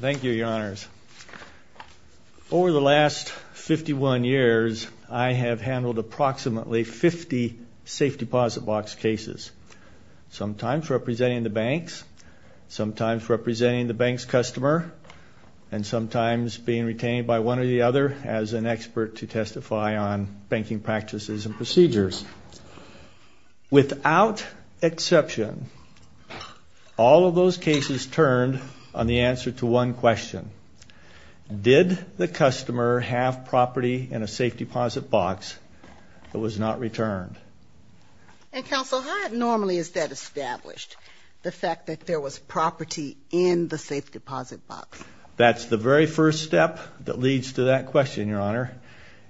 Thank you, Your Honors. Over the last 51 years, I have handled approximately 50 safe deposit box cases, sometimes representing the banks, sometimes representing the bank's customer, and sometimes being retained by one or the other as an expert to testify on banking practices and procedures. Without exception, all of those cases turned on the answer to one question. Did the customer have property in a safe deposit box that was not returned? And Counsel, how normally is that established, the fact that there was property in the safe deposit box? That's the very first step that leads to that question, Your Honor,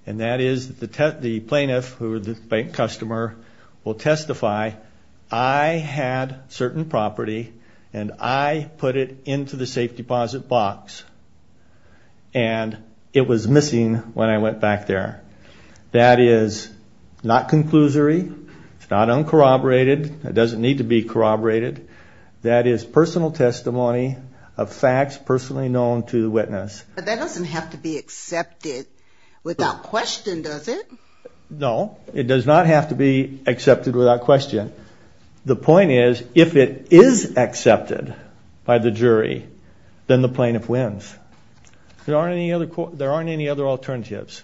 and that is the plaintiff or the bank customer will testify, I had certain property and I put it into the safe deposit box and it was missing when I went back there. That is not conclusory. It's not uncorroborated. It doesn't need to be corroborated. That is personal testimony of facts personally known to the witness. But that doesn't have to be accepted without question, does it? No, it does not have to be accepted without question. The point is, if it is accepted by the jury, then the plaintiff wins. There aren't any other alternatives.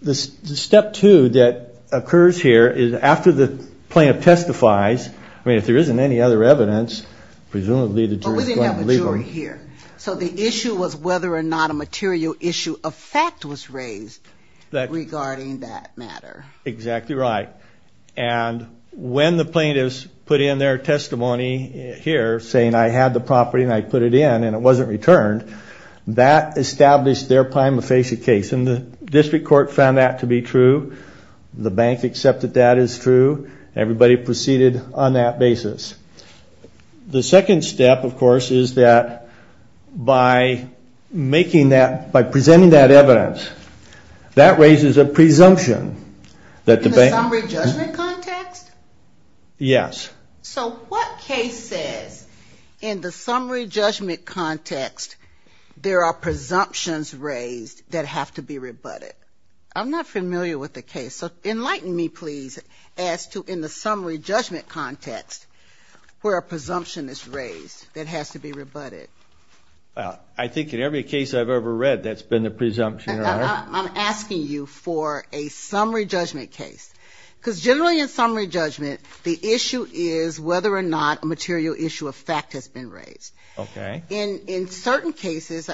The step two that occurs here is after the plaintiff testifies, I mean, if there isn't any other evidence, presumably the jury is going to leave her. But we didn't have a jury here. So the issue was whether or not a material issue of fact was raised regarding that matter. Exactly right. And when the plaintiffs put in their testimony here saying I had the property and I put it in and it wasn't returned, that established their prima facie case. And the district court found that to be true. The bank accepted that as true. Everybody proceeded on that basis. The second step, of course, is that by making that, by presenting that evidence, that raises a presumption that the bank... In the summary judgment context? Yes. So what case says in the summary judgment context there are presumptions raised that have to be rebutted? I'm not familiar with the case. So enlighten me, please, as to in the summary judgment context where a presumption is raised that has to be rebutted. Well, I think in every case I've ever read, that's been the presumption, Your Honor. I'm asking you for a summary judgment case. Because generally in summary judgment, the issue is whether or not a material issue of fact has been raised. Okay. In certain cases,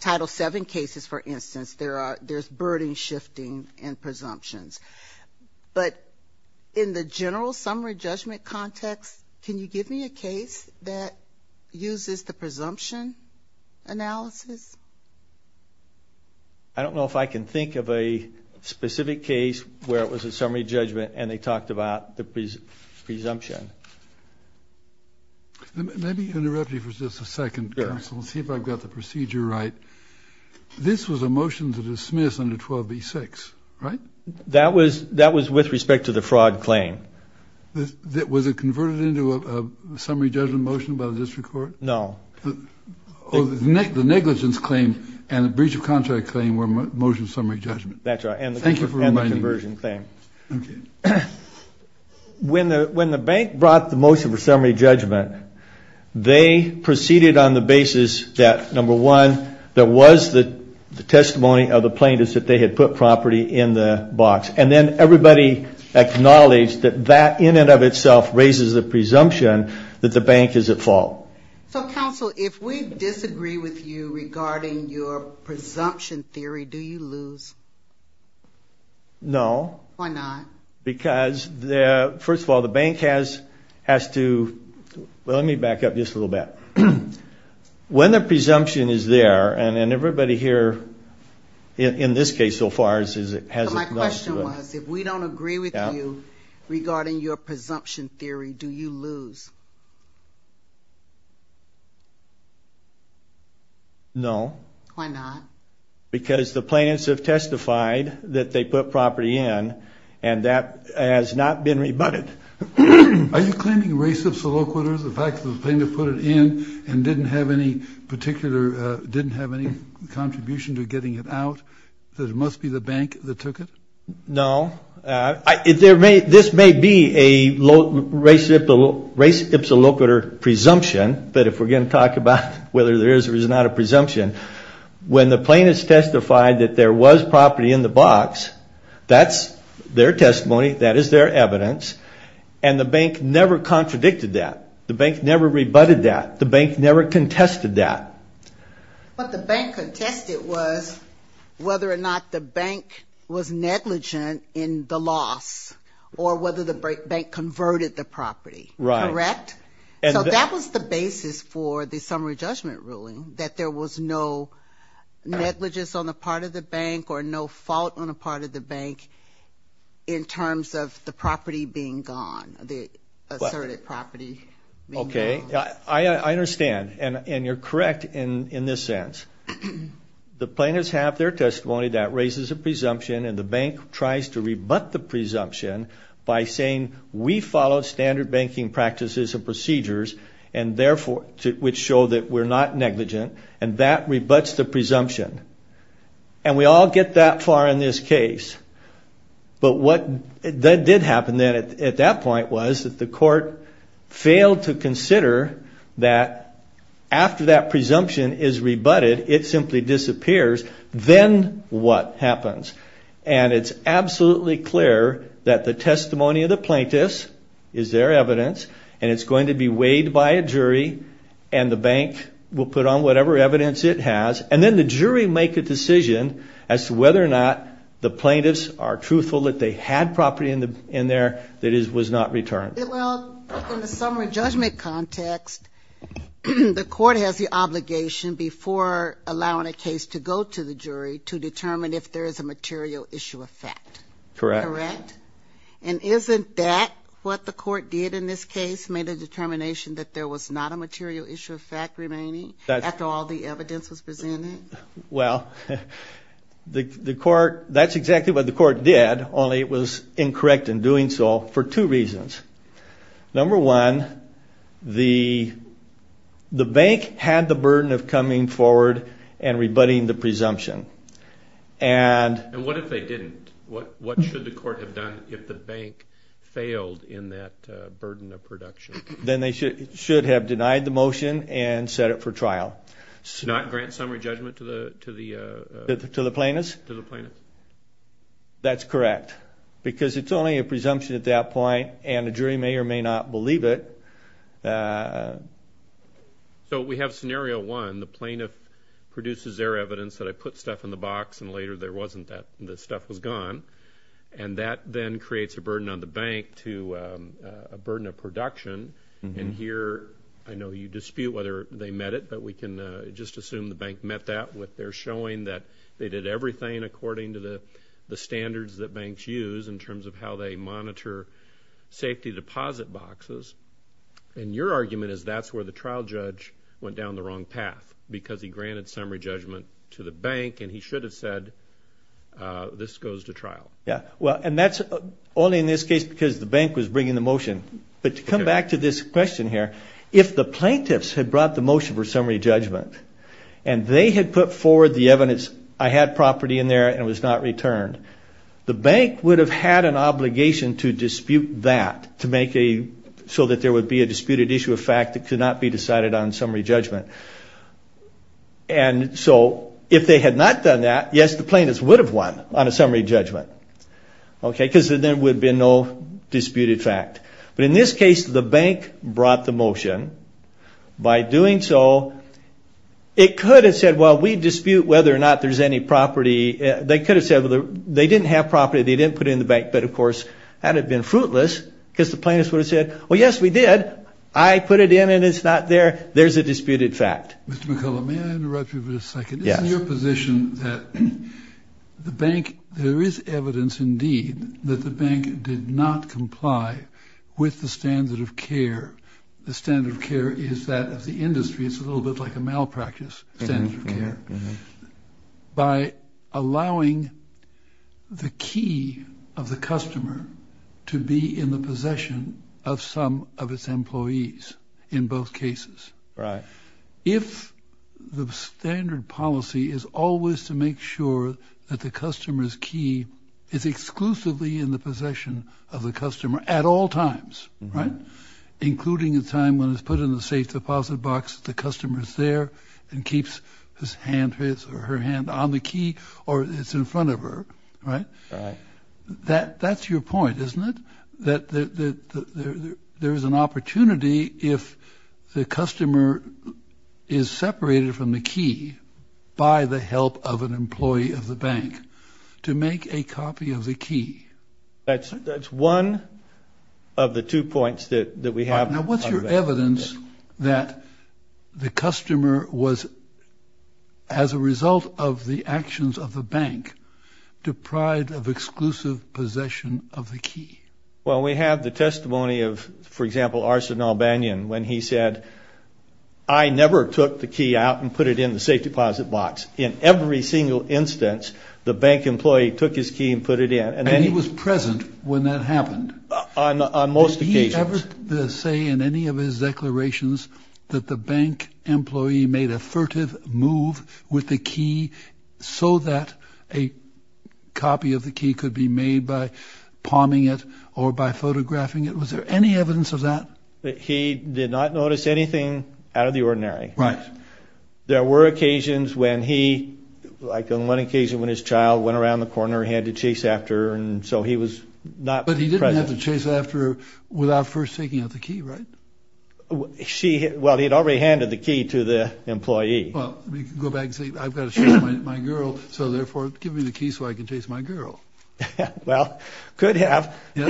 Title VII cases, for instance, there's burden shifting and presumptions. But in the general summary judgment context, can you give me a case that uses the presumption analysis? I don't know if I can think of a specific case where it was a summary judgment and they talked about the presumption. Let me interrupt you for just a second, counsel, and see if I've got the procedure right. This was a motion to dismiss under 12b-6, right? That was with respect to the fraud claim. Was it converted into a summary judgment motion by the district court? No. The negligence claim and the breach of contract claim were motion summary judgments. That's right. And the conversion claim. Okay. When the bank brought the motion for summary judgment, they proceeded on the basis that, number one, there was the testimony of the plaintiffs that they had put property in the box. And then everybody acknowledged that that in and of itself raises the presumption that the bank is at fault. So, counsel, if we disagree with you regarding your presumption theory, do you lose? No. Why not? Because, first of all, the bank has to... Well, let me back up just a little bit. When the presumption is there, and everybody here, in this case so far, has acknowledged it. My question was, if we don't agree with you regarding your presumption theory, do you lose? No. Why not? Because the plaintiffs have testified that they put property in, and that has not been rebutted. Are you claiming res ipsa loquitur, the fact that the plaintiff put it in and didn't have any particular... didn't have any contribution to getting it out, that it must be the bank that took it? No. This may be a res ipsa loquitur presumption. But if we're going to talk about whether there is or is not a presumption, when the plaintiffs testified that there was property in the box, that's their testimony, that is their evidence, and the bank never contradicted that. The bank never rebutted that. The bank never contested that. But the bank contested was whether or not the bank was negligent in the loss, or whether the bank converted the property. Correct? Correct. So that was the basis for the summary judgment ruling, that there was no negligence on the part of the bank or no fault on the part of the bank in terms of the property being gone, the asserted property being gone. Okay. I understand, and you're correct in this sense. The plaintiffs have their testimony that raises a presumption, and the bank tries to rebut the presumption by saying, we follow standard banking practices and procedures, which show that we're not negligent, and that rebuts the presumption. And we all get that far in this case. But what did happen then at that point was that the court failed to consider that after that presumption is rebutted, it simply disappears. Then what happens? And it's absolutely clear that the testimony of the plaintiffs is their evidence, and it's going to be weighed by a jury, and the bank will put on whatever evidence it has. And then the jury make a decision as to whether or not the plaintiffs are truthful that they had property in there that was not returned. Well, in the summary judgment context, the court has the obligation before allowing a case to go to the jury to determine if there is a material issue of fact. Correct. Correct? And isn't that what the court did in this case, made a determination that there was not a material issue of fact remaining after all the evidence was presented? Well, that's exactly what the court did, only it was incorrect in doing so for two reasons. Number one, the bank had the burden of coming forward and rebutting the presumption. And what if they didn't? What should the court have done if the bank failed in that burden of production? Then they should have denied the motion and set it for trial. Not grant summary judgment to the plaintiffs? To the plaintiffs. That's correct, because it's only a presumption at that point, and a jury may or may not believe it. So we have scenario one. The plaintiff produces their evidence that I put stuff in the box and later there wasn't that, the stuff was gone. And that then creates a burden on the bank to a burden of production. And here I know you dispute whether they met it, but we can just assume the bank met that with their showing that they did everything according to the standards that banks use in terms of how they monitor safety deposit boxes. And your argument is that's where the trial judge went down the wrong path, because he granted summary judgment to the bank and he should have said this goes to trial. And that's only in this case because the bank was bringing the motion. But to come back to this question here, if the plaintiffs had brought the motion for summary judgment and they had put forward the evidence, I had property in there and it was not returned, the bank would have had an obligation to dispute that so that there would be a disputed issue of fact that could not be decided on summary judgment. And so if they had not done that, yes, the plaintiffs would have won on a summary judgment, because then there would have been no disputed fact. But in this case, the bank brought the motion. By doing so, it could have said, well, we dispute whether or not there's any property. They could have said they didn't have property, they didn't put it in the bank. But, of course, that would have been fruitless because the plaintiffs would have said, well, yes, we did. I put it in and it's not there. There's a disputed fact. Mr. McCullough, may I interrupt you for a second? Yes. This is your position that the bank, there is evidence, indeed, that the bank did not comply with the standard of care, the standard of care is that of the industry, it's a little bit like a malpractice standard of care, by allowing the key of the customer to be in the possession of some of its employees in both cases. Right. If the standard policy is always to make sure that the customer's key is exclusively in the possession of the customer at all times, right, including the time when it's put in the safe deposit box, the customer's there and keeps his hand, his or her hand, on the key or it's in front of her, right? Right. That's your point, isn't it, that there is an opportunity if the customer is separated from the key by the help of an employee of the bank to make a copy of the key? That's one of the two points that we have. Now, what's your evidence that the customer was, as a result of the actions of the bank, deprived of exclusive possession of the key? Well, we have the testimony of, for example, Arsenault Banyan, when he said, I never took the key out and put it in the safe deposit box. In every single instance, the bank employee took his key and put it in. And he was present when that happened? On most occasions. Did he ever say in any of his declarations that the bank employee made a furtive move with the key so that a copy of the key could be made by palming it or by photographing it? Was there any evidence of that? He did not notice anything out of the ordinary. Right. There were occasions when he, like on one occasion, when his child went around the corner and he had to chase after her, and so he was not present. But he didn't have to chase after her without first taking out the key, right? Well, he had already handed the key to the employee. Well, you could go back and say, I've got to chase my girl, so therefore give me the key so I can chase my girl. Well, could have. But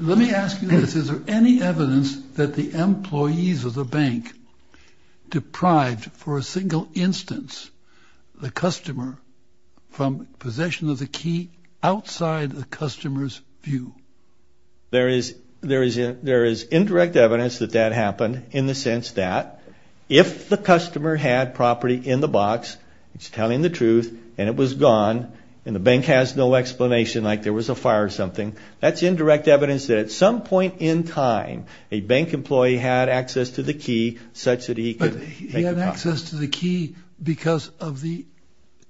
let me ask you this. Is there any evidence that the employees of the bank deprived, for a single instance, the customer from possession of the key outside the customer's view? There is indirect evidence that that happened in the sense that if the customer had property in the box, it's telling the truth, and it was gone, and the bank has no explanation like there was a fire or something, that's indirect evidence that at some point in time a bank employee had access to the key such that he could make a profit. But he had access to the key because of the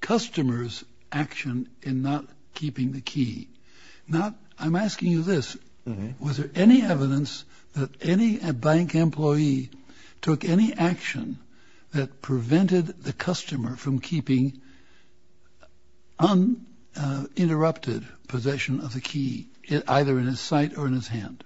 customer's action in not keeping the key. Now, I'm asking you this. Was there any evidence that any bank employee took any action that prevented the customer from keeping uninterrupted possession of the key, either in his sight or in his hand?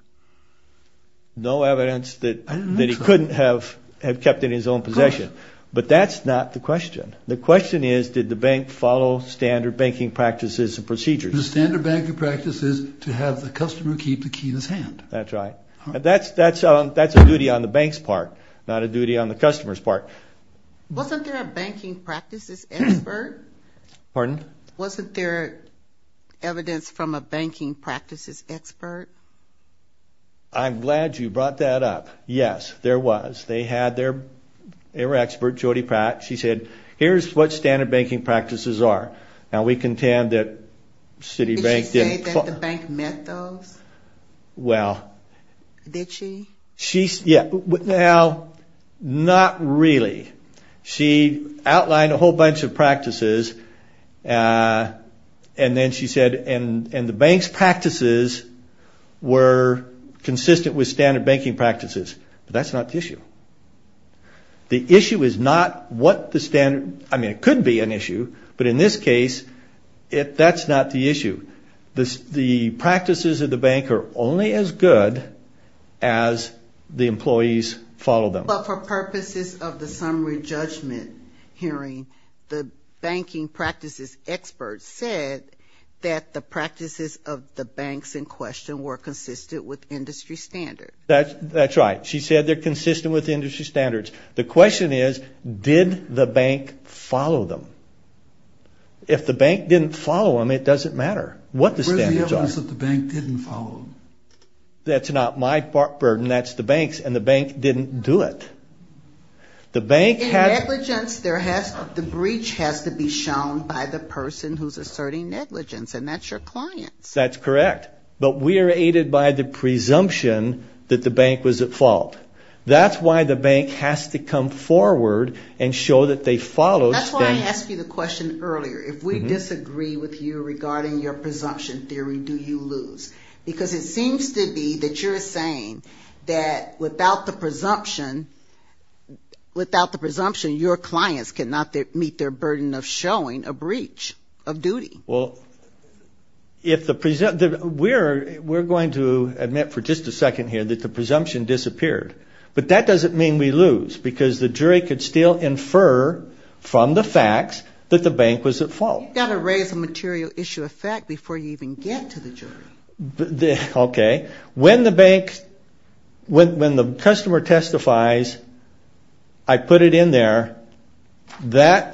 No evidence that he couldn't have kept it in his own possession. But that's not the question. The question is, did the bank follow standard banking practices and procedures? The standard banking practice is to have the customer keep the key in his hand. That's right. That's a duty on the bank's part, not a duty on the customer's part. Wasn't there a banking practices expert? Pardon? Wasn't there evidence from a banking practices expert? I'm glad you brought that up. Yes, there was. They had their expert, Jody Pratt. She said, here's what standard banking practices are. Now, we contend that Citibank didn't follow. Did she say that the bank met those? Well. Did she? Yeah. Now, not really. She outlined a whole bunch of practices, and then she said, and the bank's practices were consistent with standard banking practices. But that's not the issue. The issue is not what the standard, I mean, it could be an issue, but in this case, that's not the issue. The practices of the bank are only as good as the employees follow them. But for purposes of the summary judgment hearing, the banking practices expert said that the practices of the banks in question were consistent with industry standards. That's right. She said they're consistent with industry standards. The question is, did the bank follow them? If the bank didn't follow them, it doesn't matter what the standards are. Where's the evidence that the bank didn't follow them? That's not my burden. That's the bank's, and the bank didn't do it. In negligence, the breach has to be shown by the person who's asserting negligence, and that's your clients. That's correct. But we are aided by the presumption that the bank was at fault. That's why the bank has to come forward and show that they followed things. That's why I asked you the question earlier. If we disagree with you regarding your presumption theory, do you lose? Because it seems to be that you're saying that without the presumption, your clients cannot meet their burden of showing a breach of duty. Well, we're going to admit for just a second here that the presumption disappeared. But that doesn't mean we lose, because the jury could still infer from the facts that the bank was at fault. You've got to raise a material issue of fact before you even get to the jury. Okay. When the customer testifies, I put it in there. There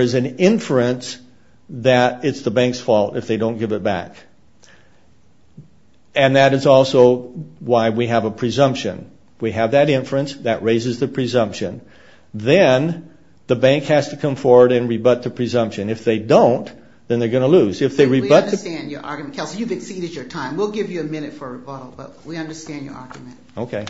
is an inference that it's the bank's fault if they don't give it back, and that is also why we have a presumption. We have that inference. That raises the presumption. Then the bank has to come forward and rebut the presumption. If they don't, then they're going to lose. We understand your argument, Kelsey. You've exceeded your time. We'll give you a minute for a rebuttal, but we understand your argument. Okay.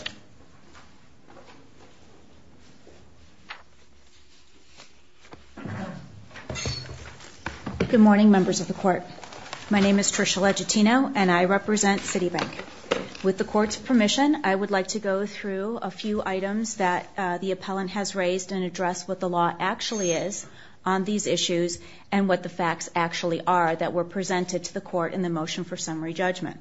Good morning, members of the court. My name is Tricia Legittino, and I represent Citibank. With the court's permission, I would like to go through a few items that the appellant has raised and address what the law actually is on these issues and what the facts actually are that were presented to the court in the motion for summary judgment.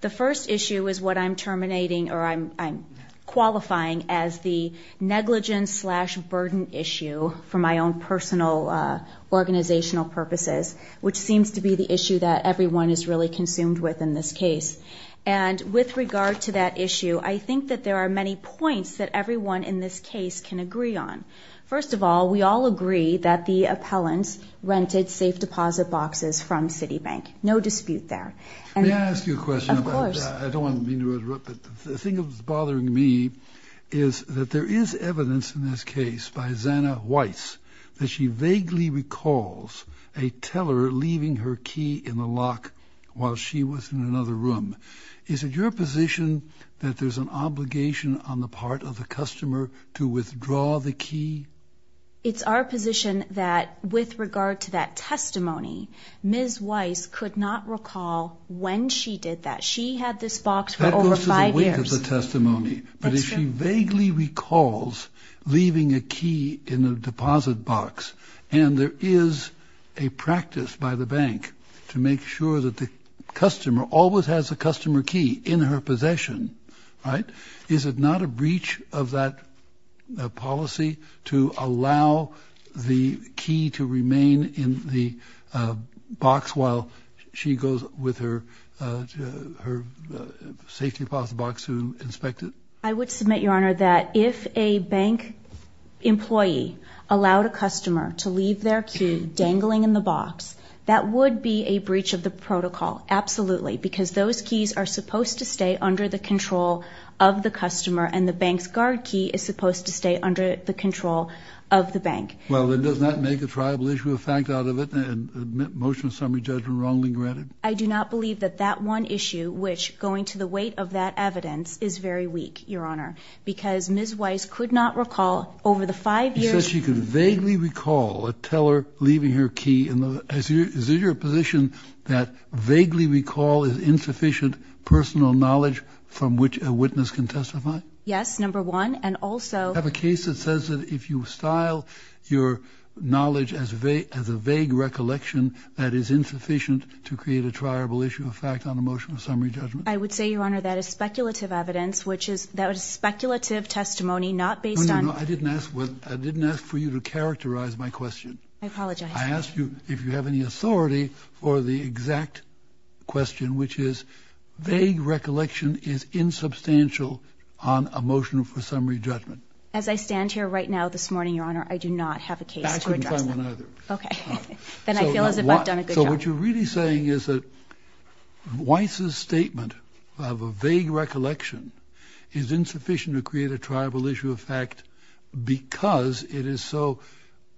The first issue is what I'm terminating or I'm qualifying as the negligence-slash-burden issue, for my own personal organizational purposes, which seems to be the issue that everyone is really consumed with in this case. With regard to that issue, I think that there are many points that everyone in this case can agree on. First of all, we all agree that the appellant rented safe deposit boxes from Citibank. No dispute there. May I ask you a question? Of course. I don't mean to interrupt, but the thing that's bothering me is that there is evidence in this case by Zanna Weiss that she vaguely recalls a teller leaving her key in the lock while she was in another room. Is it your position that there's an obligation on the part of the customer to withdraw the key? It's our position that with regard to that testimony, Ms. Weiss could not recall when she did that. She had this box for over five years. But if she vaguely recalls leaving a key in a deposit box, and there is a practice by the bank to make sure that the customer always has a customer key in her possession, right, I would submit, Your Honor, that if a bank employee allowed a customer to leave their key dangling in the box, that would be a breach of the protocol, absolutely, because those keys are supposed to stay under the control of the customer, and the bank's guard key is supposed to stay under the control of the bank. Well, then does that make a triable issue of fact out of it and a motion of summary judgment wrongly granted? I do not believe that that one issue, which going to the weight of that evidence, is very weak, Your Honor, because Ms. Weiss could not recall over the five years. You said she could vaguely recall a teller leaving her key. Is it your position that vaguely recall is insufficient personal knowledge from which a witness can testify? Yes, number one, and also. I have a case that says that if you style your knowledge as a vague recollection, that is insufficient to create a triable issue of fact on a motion of summary judgment. I would say, Your Honor, that is speculative evidence, which is speculative testimony not based on. No, no, no, I didn't ask for you to characterize my question. I apologize. I asked you if you have any authority for the exact question, which is vague recollection is insubstantial on a motion for summary judgment. As I stand here right now this morning, Your Honor, I do not have a case to address that. I couldn't find one either. Okay. Then I feel as if I've done a good job. So what you're really saying is that Weiss's statement of a vague recollection is insufficient to create a triable issue of fact because it is so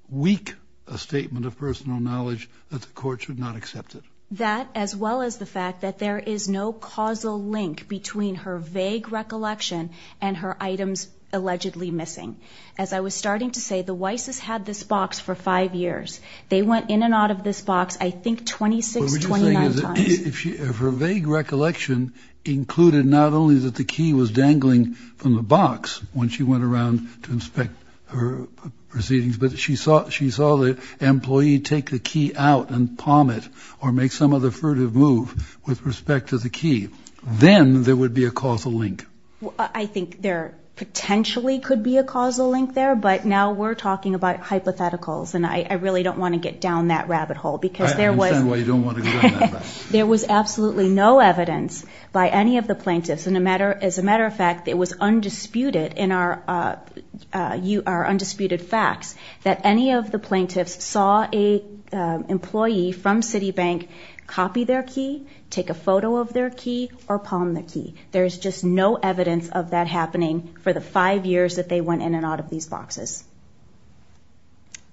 weak a statement of personal knowledge that the court should not accept it. That, as well as the fact that there is no causal link between her vague recollection and her items allegedly missing. As I was starting to say, the Weiss's had this box for five years. They went in and out of this box I think 26, 29 times. What you're saying is if her vague recollection included not only that the key was dangling from the box when she went around to inspect her proceedings, but she saw the employee take the key out and palm it or make some other furtive move with respect to the key, then there would be a causal link. I think there potentially could be a causal link there, but now we're talking about hypotheticals, and I really don't want to get down that rabbit hole because there was. I understand why you don't want to go down that rabbit hole. There was absolutely no evidence by any of the plaintiffs. As a matter of fact, it was undisputed in our undisputed facts that any of the plaintiffs saw an employee from Citibank copy their key, take a photo of their key, or palm the key. There's just no evidence of that happening for the five years that they went in and out of these boxes.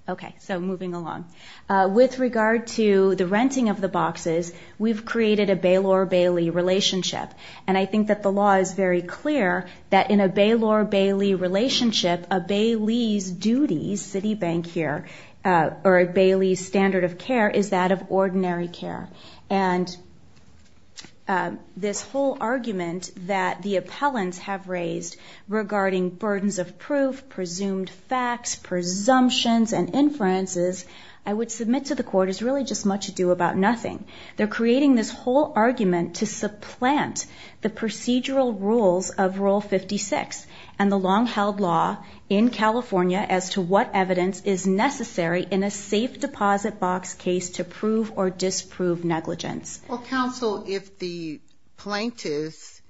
Okay, so moving along. With regard to the renting of the boxes, we've created a Baylor-Bailey relationship, and I think that the law is very clear that in a Baylor-Bailey relationship, a Bailey's duty, Citibank here, or a Bailey's standard of care is that of ordinary care. And this whole argument that the appellants have raised regarding burdens of proof, presumed facts, presumptions, and inferences, I would submit to the court, it's really just much ado about nothing. They're creating this whole argument to supplant the procedural rules of Rule 56 and the long-held law in California as to what evidence is necessary in a safe deposit box case to prove or disprove negligence. Well, counsel, if the plaintiffs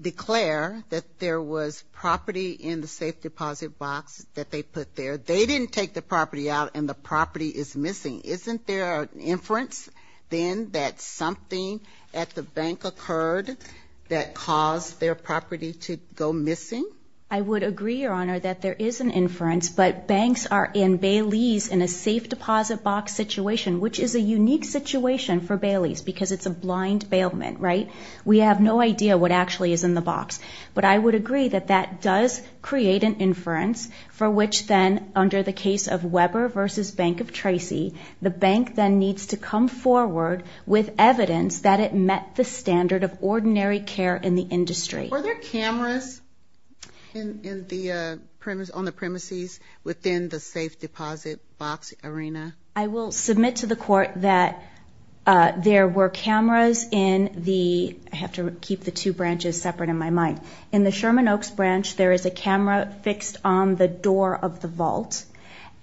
declare that there was property in the safe deposit box that they put there, they didn't take the property out and the property is missing. Isn't there an inference then that something at the bank occurred that caused their property to go missing? I would agree, Your Honor, that there is an inference, but banks are in Bailey's in a safe deposit box situation, which is a unique situation for Bailey's because it's a blind bailment, right? We have no idea what actually is in the box. But I would agree that that does create an inference for which then under the case of Weber v. Bank of Tracy, the bank then needs to come forward with evidence that it met the standard of ordinary care in the industry. Were there cameras on the premises within the safe deposit box arena? I will submit to the court that there were cameras in the – I have to keep the two branches separate in my mind. In the Sherman Oaks branch, there is a camera fixed on the door of the vault.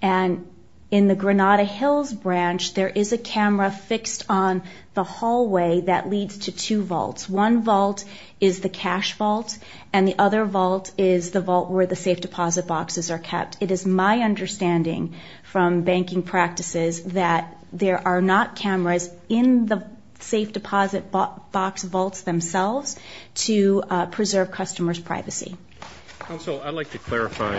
And in the Granada Hills branch, there is a camera fixed on the hallway that leads to two vaults. One vault is the cash vault, and the other vault is the vault where the safe deposit boxes are kept. It is my understanding from banking practices that there are not cameras in the safe deposit box vaults themselves to preserve customers' privacy. Counsel, I'd like to clarify,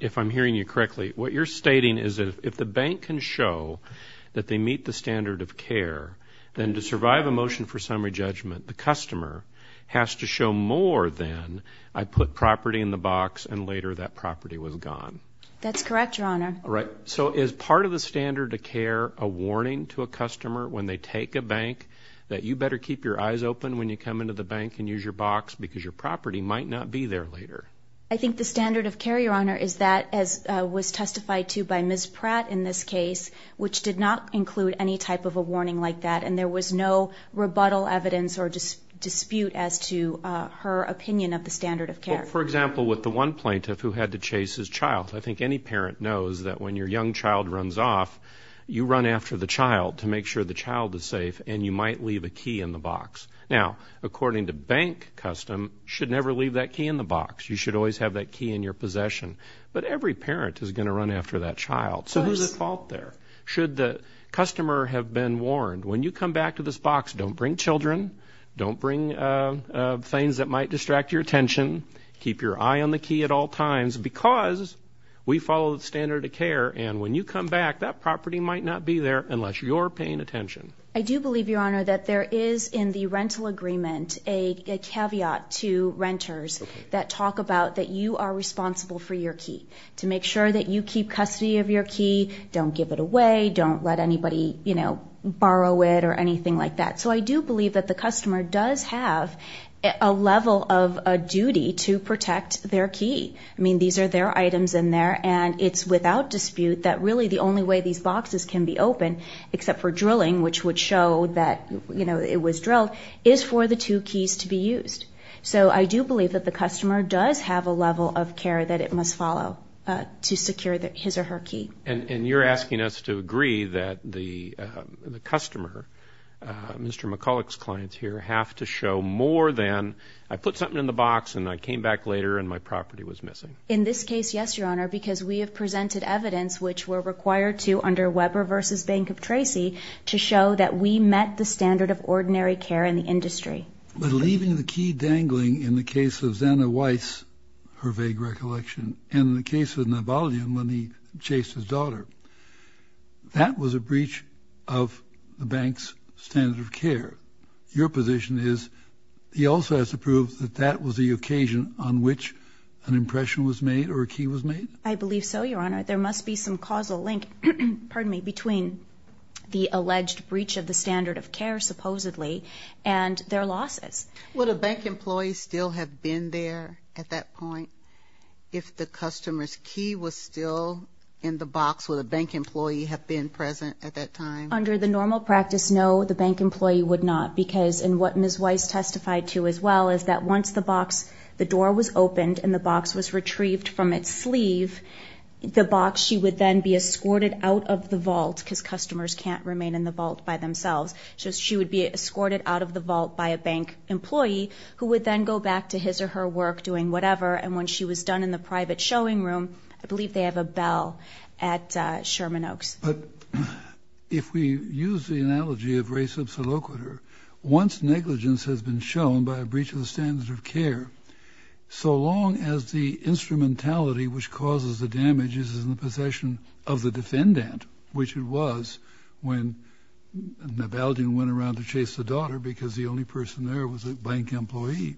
if I'm hearing you correctly. What you're stating is that if the bank can show that they meet the standard of care, then to survive a motion for summary judgment, the customer has to show more than, I put property in the box and later that property was gone. That's correct, Your Honor. All right. So is part of the standard of care a warning to a customer when they take a bank that you better keep your eyes open when you come into the bank and use your box because your property might not be there later? I think the standard of care, Your Honor, is that as was testified to by Ms. Pratt in this case, which did not include any type of a warning like that, and there was no rebuttal evidence or dispute as to her opinion of the standard of care. For example, with the one plaintiff who had to chase his child, I think any parent knows that when your young child runs off, you run after the child to make sure the child is safe, and you might leave a key in the box. Now, according to bank custom, you should never leave that key in the box. You should always have that key in your possession. But every parent is going to run after that child. So who's at fault there? Should the customer have been warned, when you come back to this box, don't bring children, don't bring things that might distract your attention, keep your eye on the key at all times because we follow the standard of care, and when you come back, that property might not be there unless you're paying attention. I do believe, Your Honor, that there is in the rental agreement a caveat to renters that talk about that you are responsible for your key. To make sure that you keep custody of your key, don't give it away, don't let anybody borrow it or anything like that. So I do believe that the customer does have a level of duty to protect their key. I mean, these are their items in there, and it's without dispute that really the only way these boxes can be open, except for drilling, which would show that it was drilled, is for the two keys to be used. So I do believe that the customer does have a level of care that it must follow to secure his or her key. And you're asking us to agree that the customer, Mr. McCulloch's client here, have to show more than I put something in the box and I came back later and my property was missing. In this case, yes, Your Honor, because we have presented evidence, which we're required to under Weber v. Bank of Tracy, to show that we met the standard of ordinary care in the industry. But leaving the key dangling in the case of Zanna Weiss, her vague recollection, and in the case of Navalny when he chased his daughter, that was a breach of the bank's standard of care. Your position is he also has to prove that that was the occasion on which an impression was made or a key was made? I believe so, Your Honor. There must be some causal link between the alleged breach of the standard of care, supposedly, and their losses. Would a bank employee still have been there at that point if the customer's key was still in the box? Would a bank employee have been present at that time? Under the normal practice, no, the bank employee would not, because what Ms. Weiss testified to as well is that once the door was opened and the box was retrieved from its sleeve, the box, she would then be escorted out of the vault because customers can't remain in the vault by themselves. So she would be escorted out of the vault by a bank employee, who would then go back to his or her work doing whatever. And when she was done in the private showing room, I believe they have a bell at Sherman Oaks. But if we use the analogy of res obsoloquiter, once negligence has been shown by a breach of the standard of care, so long as the instrumentality which causes the damage is in the possession of the defendant, which it was when Navalny went around to chase the daughter because the only person there was a bank employee,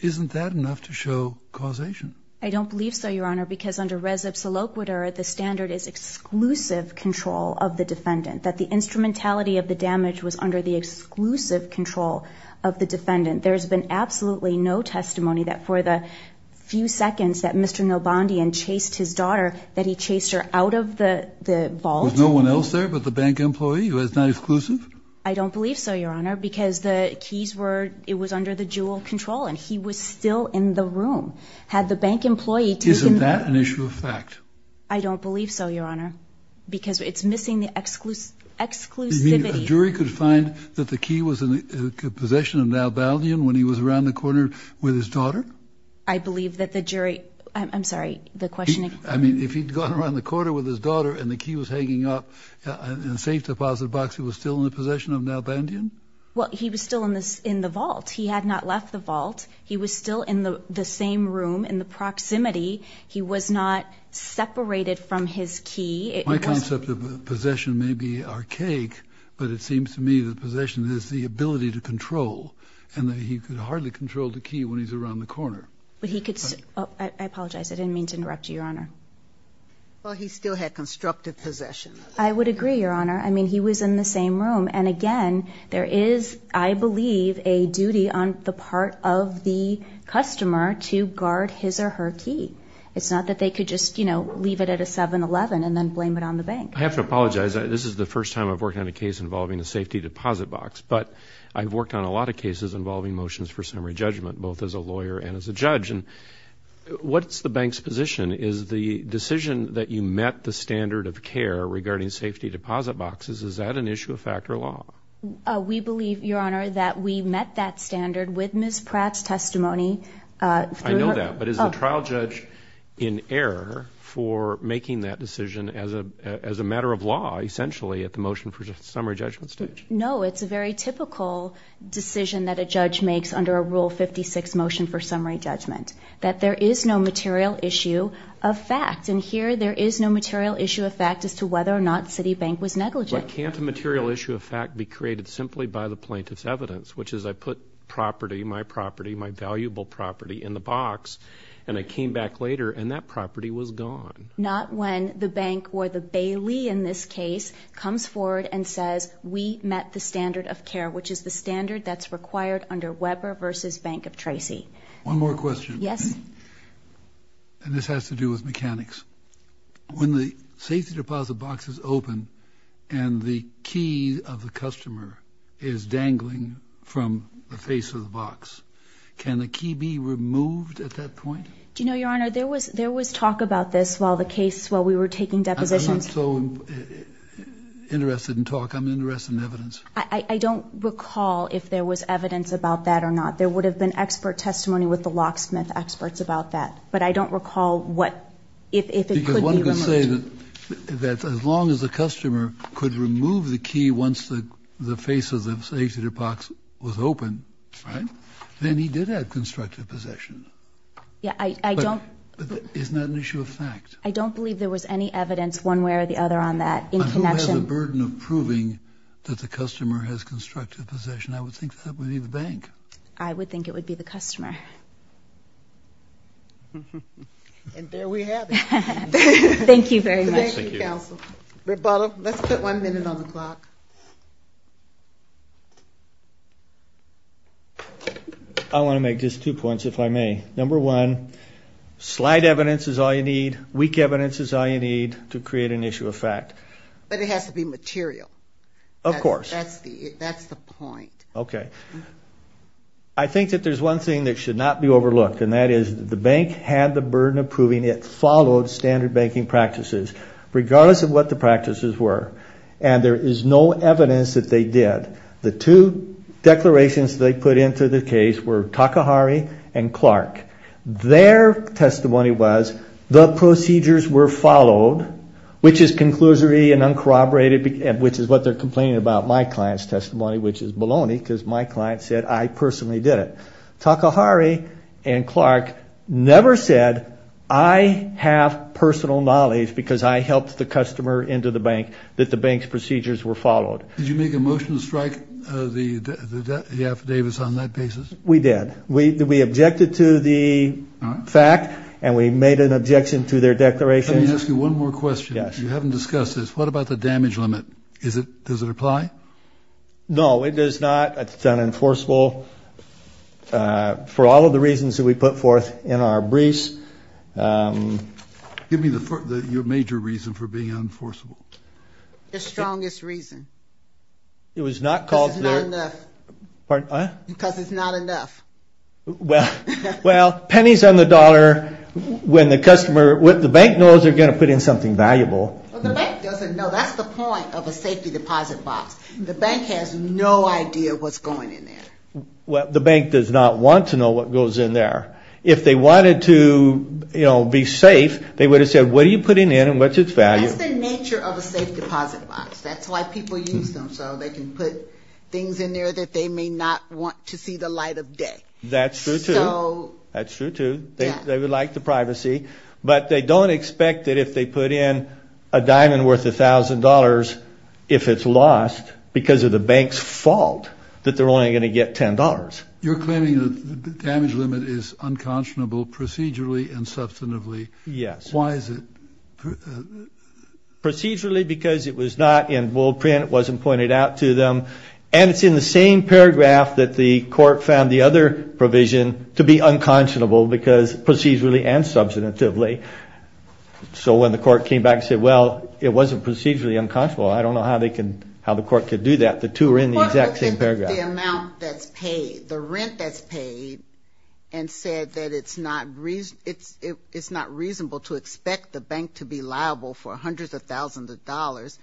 isn't that enough to show causation? I don't believe so, Your Honor, because under res obsoloquiter, the standard is exclusive control of the defendant, that the instrumentality of the damage was under the exclusive control of the defendant. There's been absolutely no testimony that for the few seconds that Mr. Nobondian chased his daughter, that he chased her out of the vault. Was no one else there but the bank employee who was not exclusive? I don't believe so, Your Honor, because the keys were under the jewel control, and he was still in the room. Had the bank employee taken the keys? Isn't that an issue of fact? I don't believe so, Your Honor, because it's missing the exclusivity. You mean a jury could find that the key was in the possession of Navalny when he was around the corner with his daughter? I believe that the jury, I'm sorry, the question again. I mean, if he'd gone around the corner with his daughter and the key was hanging up in a safe deposit box, he was still in the possession of Nobondian? Well, he was still in the vault. He had not left the vault. He was still in the same room, in the proximity. He was not separated from his key. My concept of possession may be archaic, but it seems to me that possession is the ability to control, and that he could hardly control the key when he's around the corner. I apologize. I didn't mean to interrupt you, Your Honor. Well, he still had constructive possession. I would agree, Your Honor. I mean, he was in the same room, and again, there is, I believe, a duty on the part of the customer to guard his or her key. It's not that they could just, you know, leave it at a 7-Eleven and then blame it on the bank. I have to apologize. This is the first time I've worked on a case involving a safety deposit box, but I've worked on a lot of cases involving motions for summary judgment, both as a lawyer and as a judge. And what's the bank's position? Is the decision that you met the standard of care regarding safety deposit boxes, is that an issue of fact or law? We believe, Your Honor, that we met that standard with Ms. Pratt's testimony. I know that. But is the trial judge in error for making that decision as a matter of law, essentially, at the motion for summary judgment stage? No, it's a very typical decision that a judge makes under a Rule 56 motion for summary judgment, that there is no material issue of fact. And here, there is no material issue of fact as to whether or not Citibank was negligent. But can't a material issue of fact be created simply by the plaintiff's evidence, which is I put property, my property, my valuable property, in the box, and I came back later, and that property was gone. Not when the bank or the bailee, in this case, comes forward and says, we met the standard of care, which is the standard that's required under Weber v. Bank of Tracy. One more question. Yes. And this has to do with mechanics. When the safety deposit box is open and the key of the customer is dangling from the face of the box, can the key be removed at that point? Do you know, Your Honor, there was talk about this while the case, while we were taking depositions. I'm not so interested in talk. I'm interested in evidence. I don't recall if there was evidence about that or not. There would have been expert testimony with the locksmith experts about that. But I don't recall what, if it could be removed. Because one could say that as long as the customer could remove the key once the face of the safety deposit box was open, then he did have constructive possession. Yeah, I don't. But isn't that an issue of fact? I don't believe there was any evidence one way or the other on that in connection. But who has the burden of proving that the customer has constructive possession? I would think that would be the bank. I would think it would be the customer. And there we have it. Thank you very much. Rebuttal. Let's put one minute on the clock. I want to make just two points, if I may. Number one, slight evidence is all you need. Weak evidence is all you need to create an issue of fact. But it has to be material. Of course. That's the point. Okay. I think that there's one thing that should not be overlooked. And that is the bank had the burden of proving it followed standard banking practices, regardless of what the practices were. And there is no evidence that they did. The two declarations they put into the case were Takahari and Clark. Their testimony was the procedures were followed, which is conclusory and uncorroborated, which is what they're complaining about my client's testimony, which is baloney, because my client said I personally did it. Takahari and Clark never said I have personal knowledge because I helped the customer into the bank. That the bank's procedures were followed. Did you make a motion to strike the affidavits on that basis? We did. We objected to the fact, and we made an objection to their declaration. Let me ask you one more question. Yes. You haven't discussed this. What about the damage limit? Does it apply? No, it does not. It's unenforceable for all of the reasons that we put forth in our briefs. Give me your major reason for being unenforceable. The strongest reason. It was not called. Because it's not enough. Pardon? Because it's not enough. Well, pennies on the dollar, when the customer, when the bank knows they're going to put in something valuable. Well, the bank doesn't know. That's the point of a safety deposit box. The bank has no idea what's going in there. Well, the bank does not want to know what goes in there. If they wanted to be safe, they would have said, what are you putting in and what's its value? That's the nature of a safe deposit box. That's why people use them, so they can put things in there that they may not want to see the light of day. That's true, too. That's true, too. They would like the privacy. But they don't expect that if they put in a diamond worth $1,000, if it's lost because of the bank's fault, that they're only going to get $10. You're claiming that the damage limit is unconscionable procedurally and substantively. Yes. Why is it? Procedurally, because it was not in bull print, it wasn't pointed out to them. And it's in the same paragraph that the court found the other provision to be unconscionable, because procedurally and substantively. So when the court came back and said, well, it wasn't procedurally unconscionable, I don't know how the court could do that. The two are in the exact same paragraph. The amount that's paid, the rent that's paid, and said that it's not reasonable to expect the bank to be liable for hundreds of thousands of dollars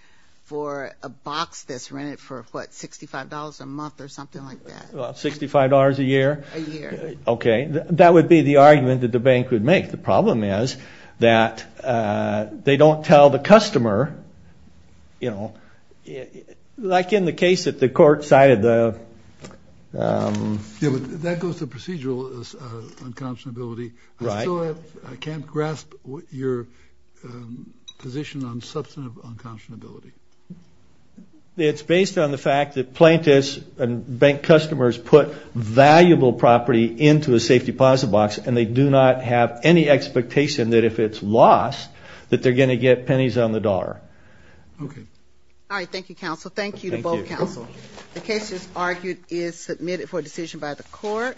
for a box that's rented for, what, $65 a month or something like that. $65 a year? A year. Okay. That would be the argument that the bank would make. The problem is that they don't tell the customer, you know, like in the case that the court cited. Yeah, but that goes to procedural unconscionability. Right. I still can't grasp your position on substantive unconscionability. It's based on the fact that plaintiffs and bank customers put valuable property into a safe deposit box, and they do not have any expectation that if it's lost that they're going to get pennies on the dollar. Okay. All right. Thank you, counsel. Thank you to both counsel. The case, as argued, is submitted for decision by the court.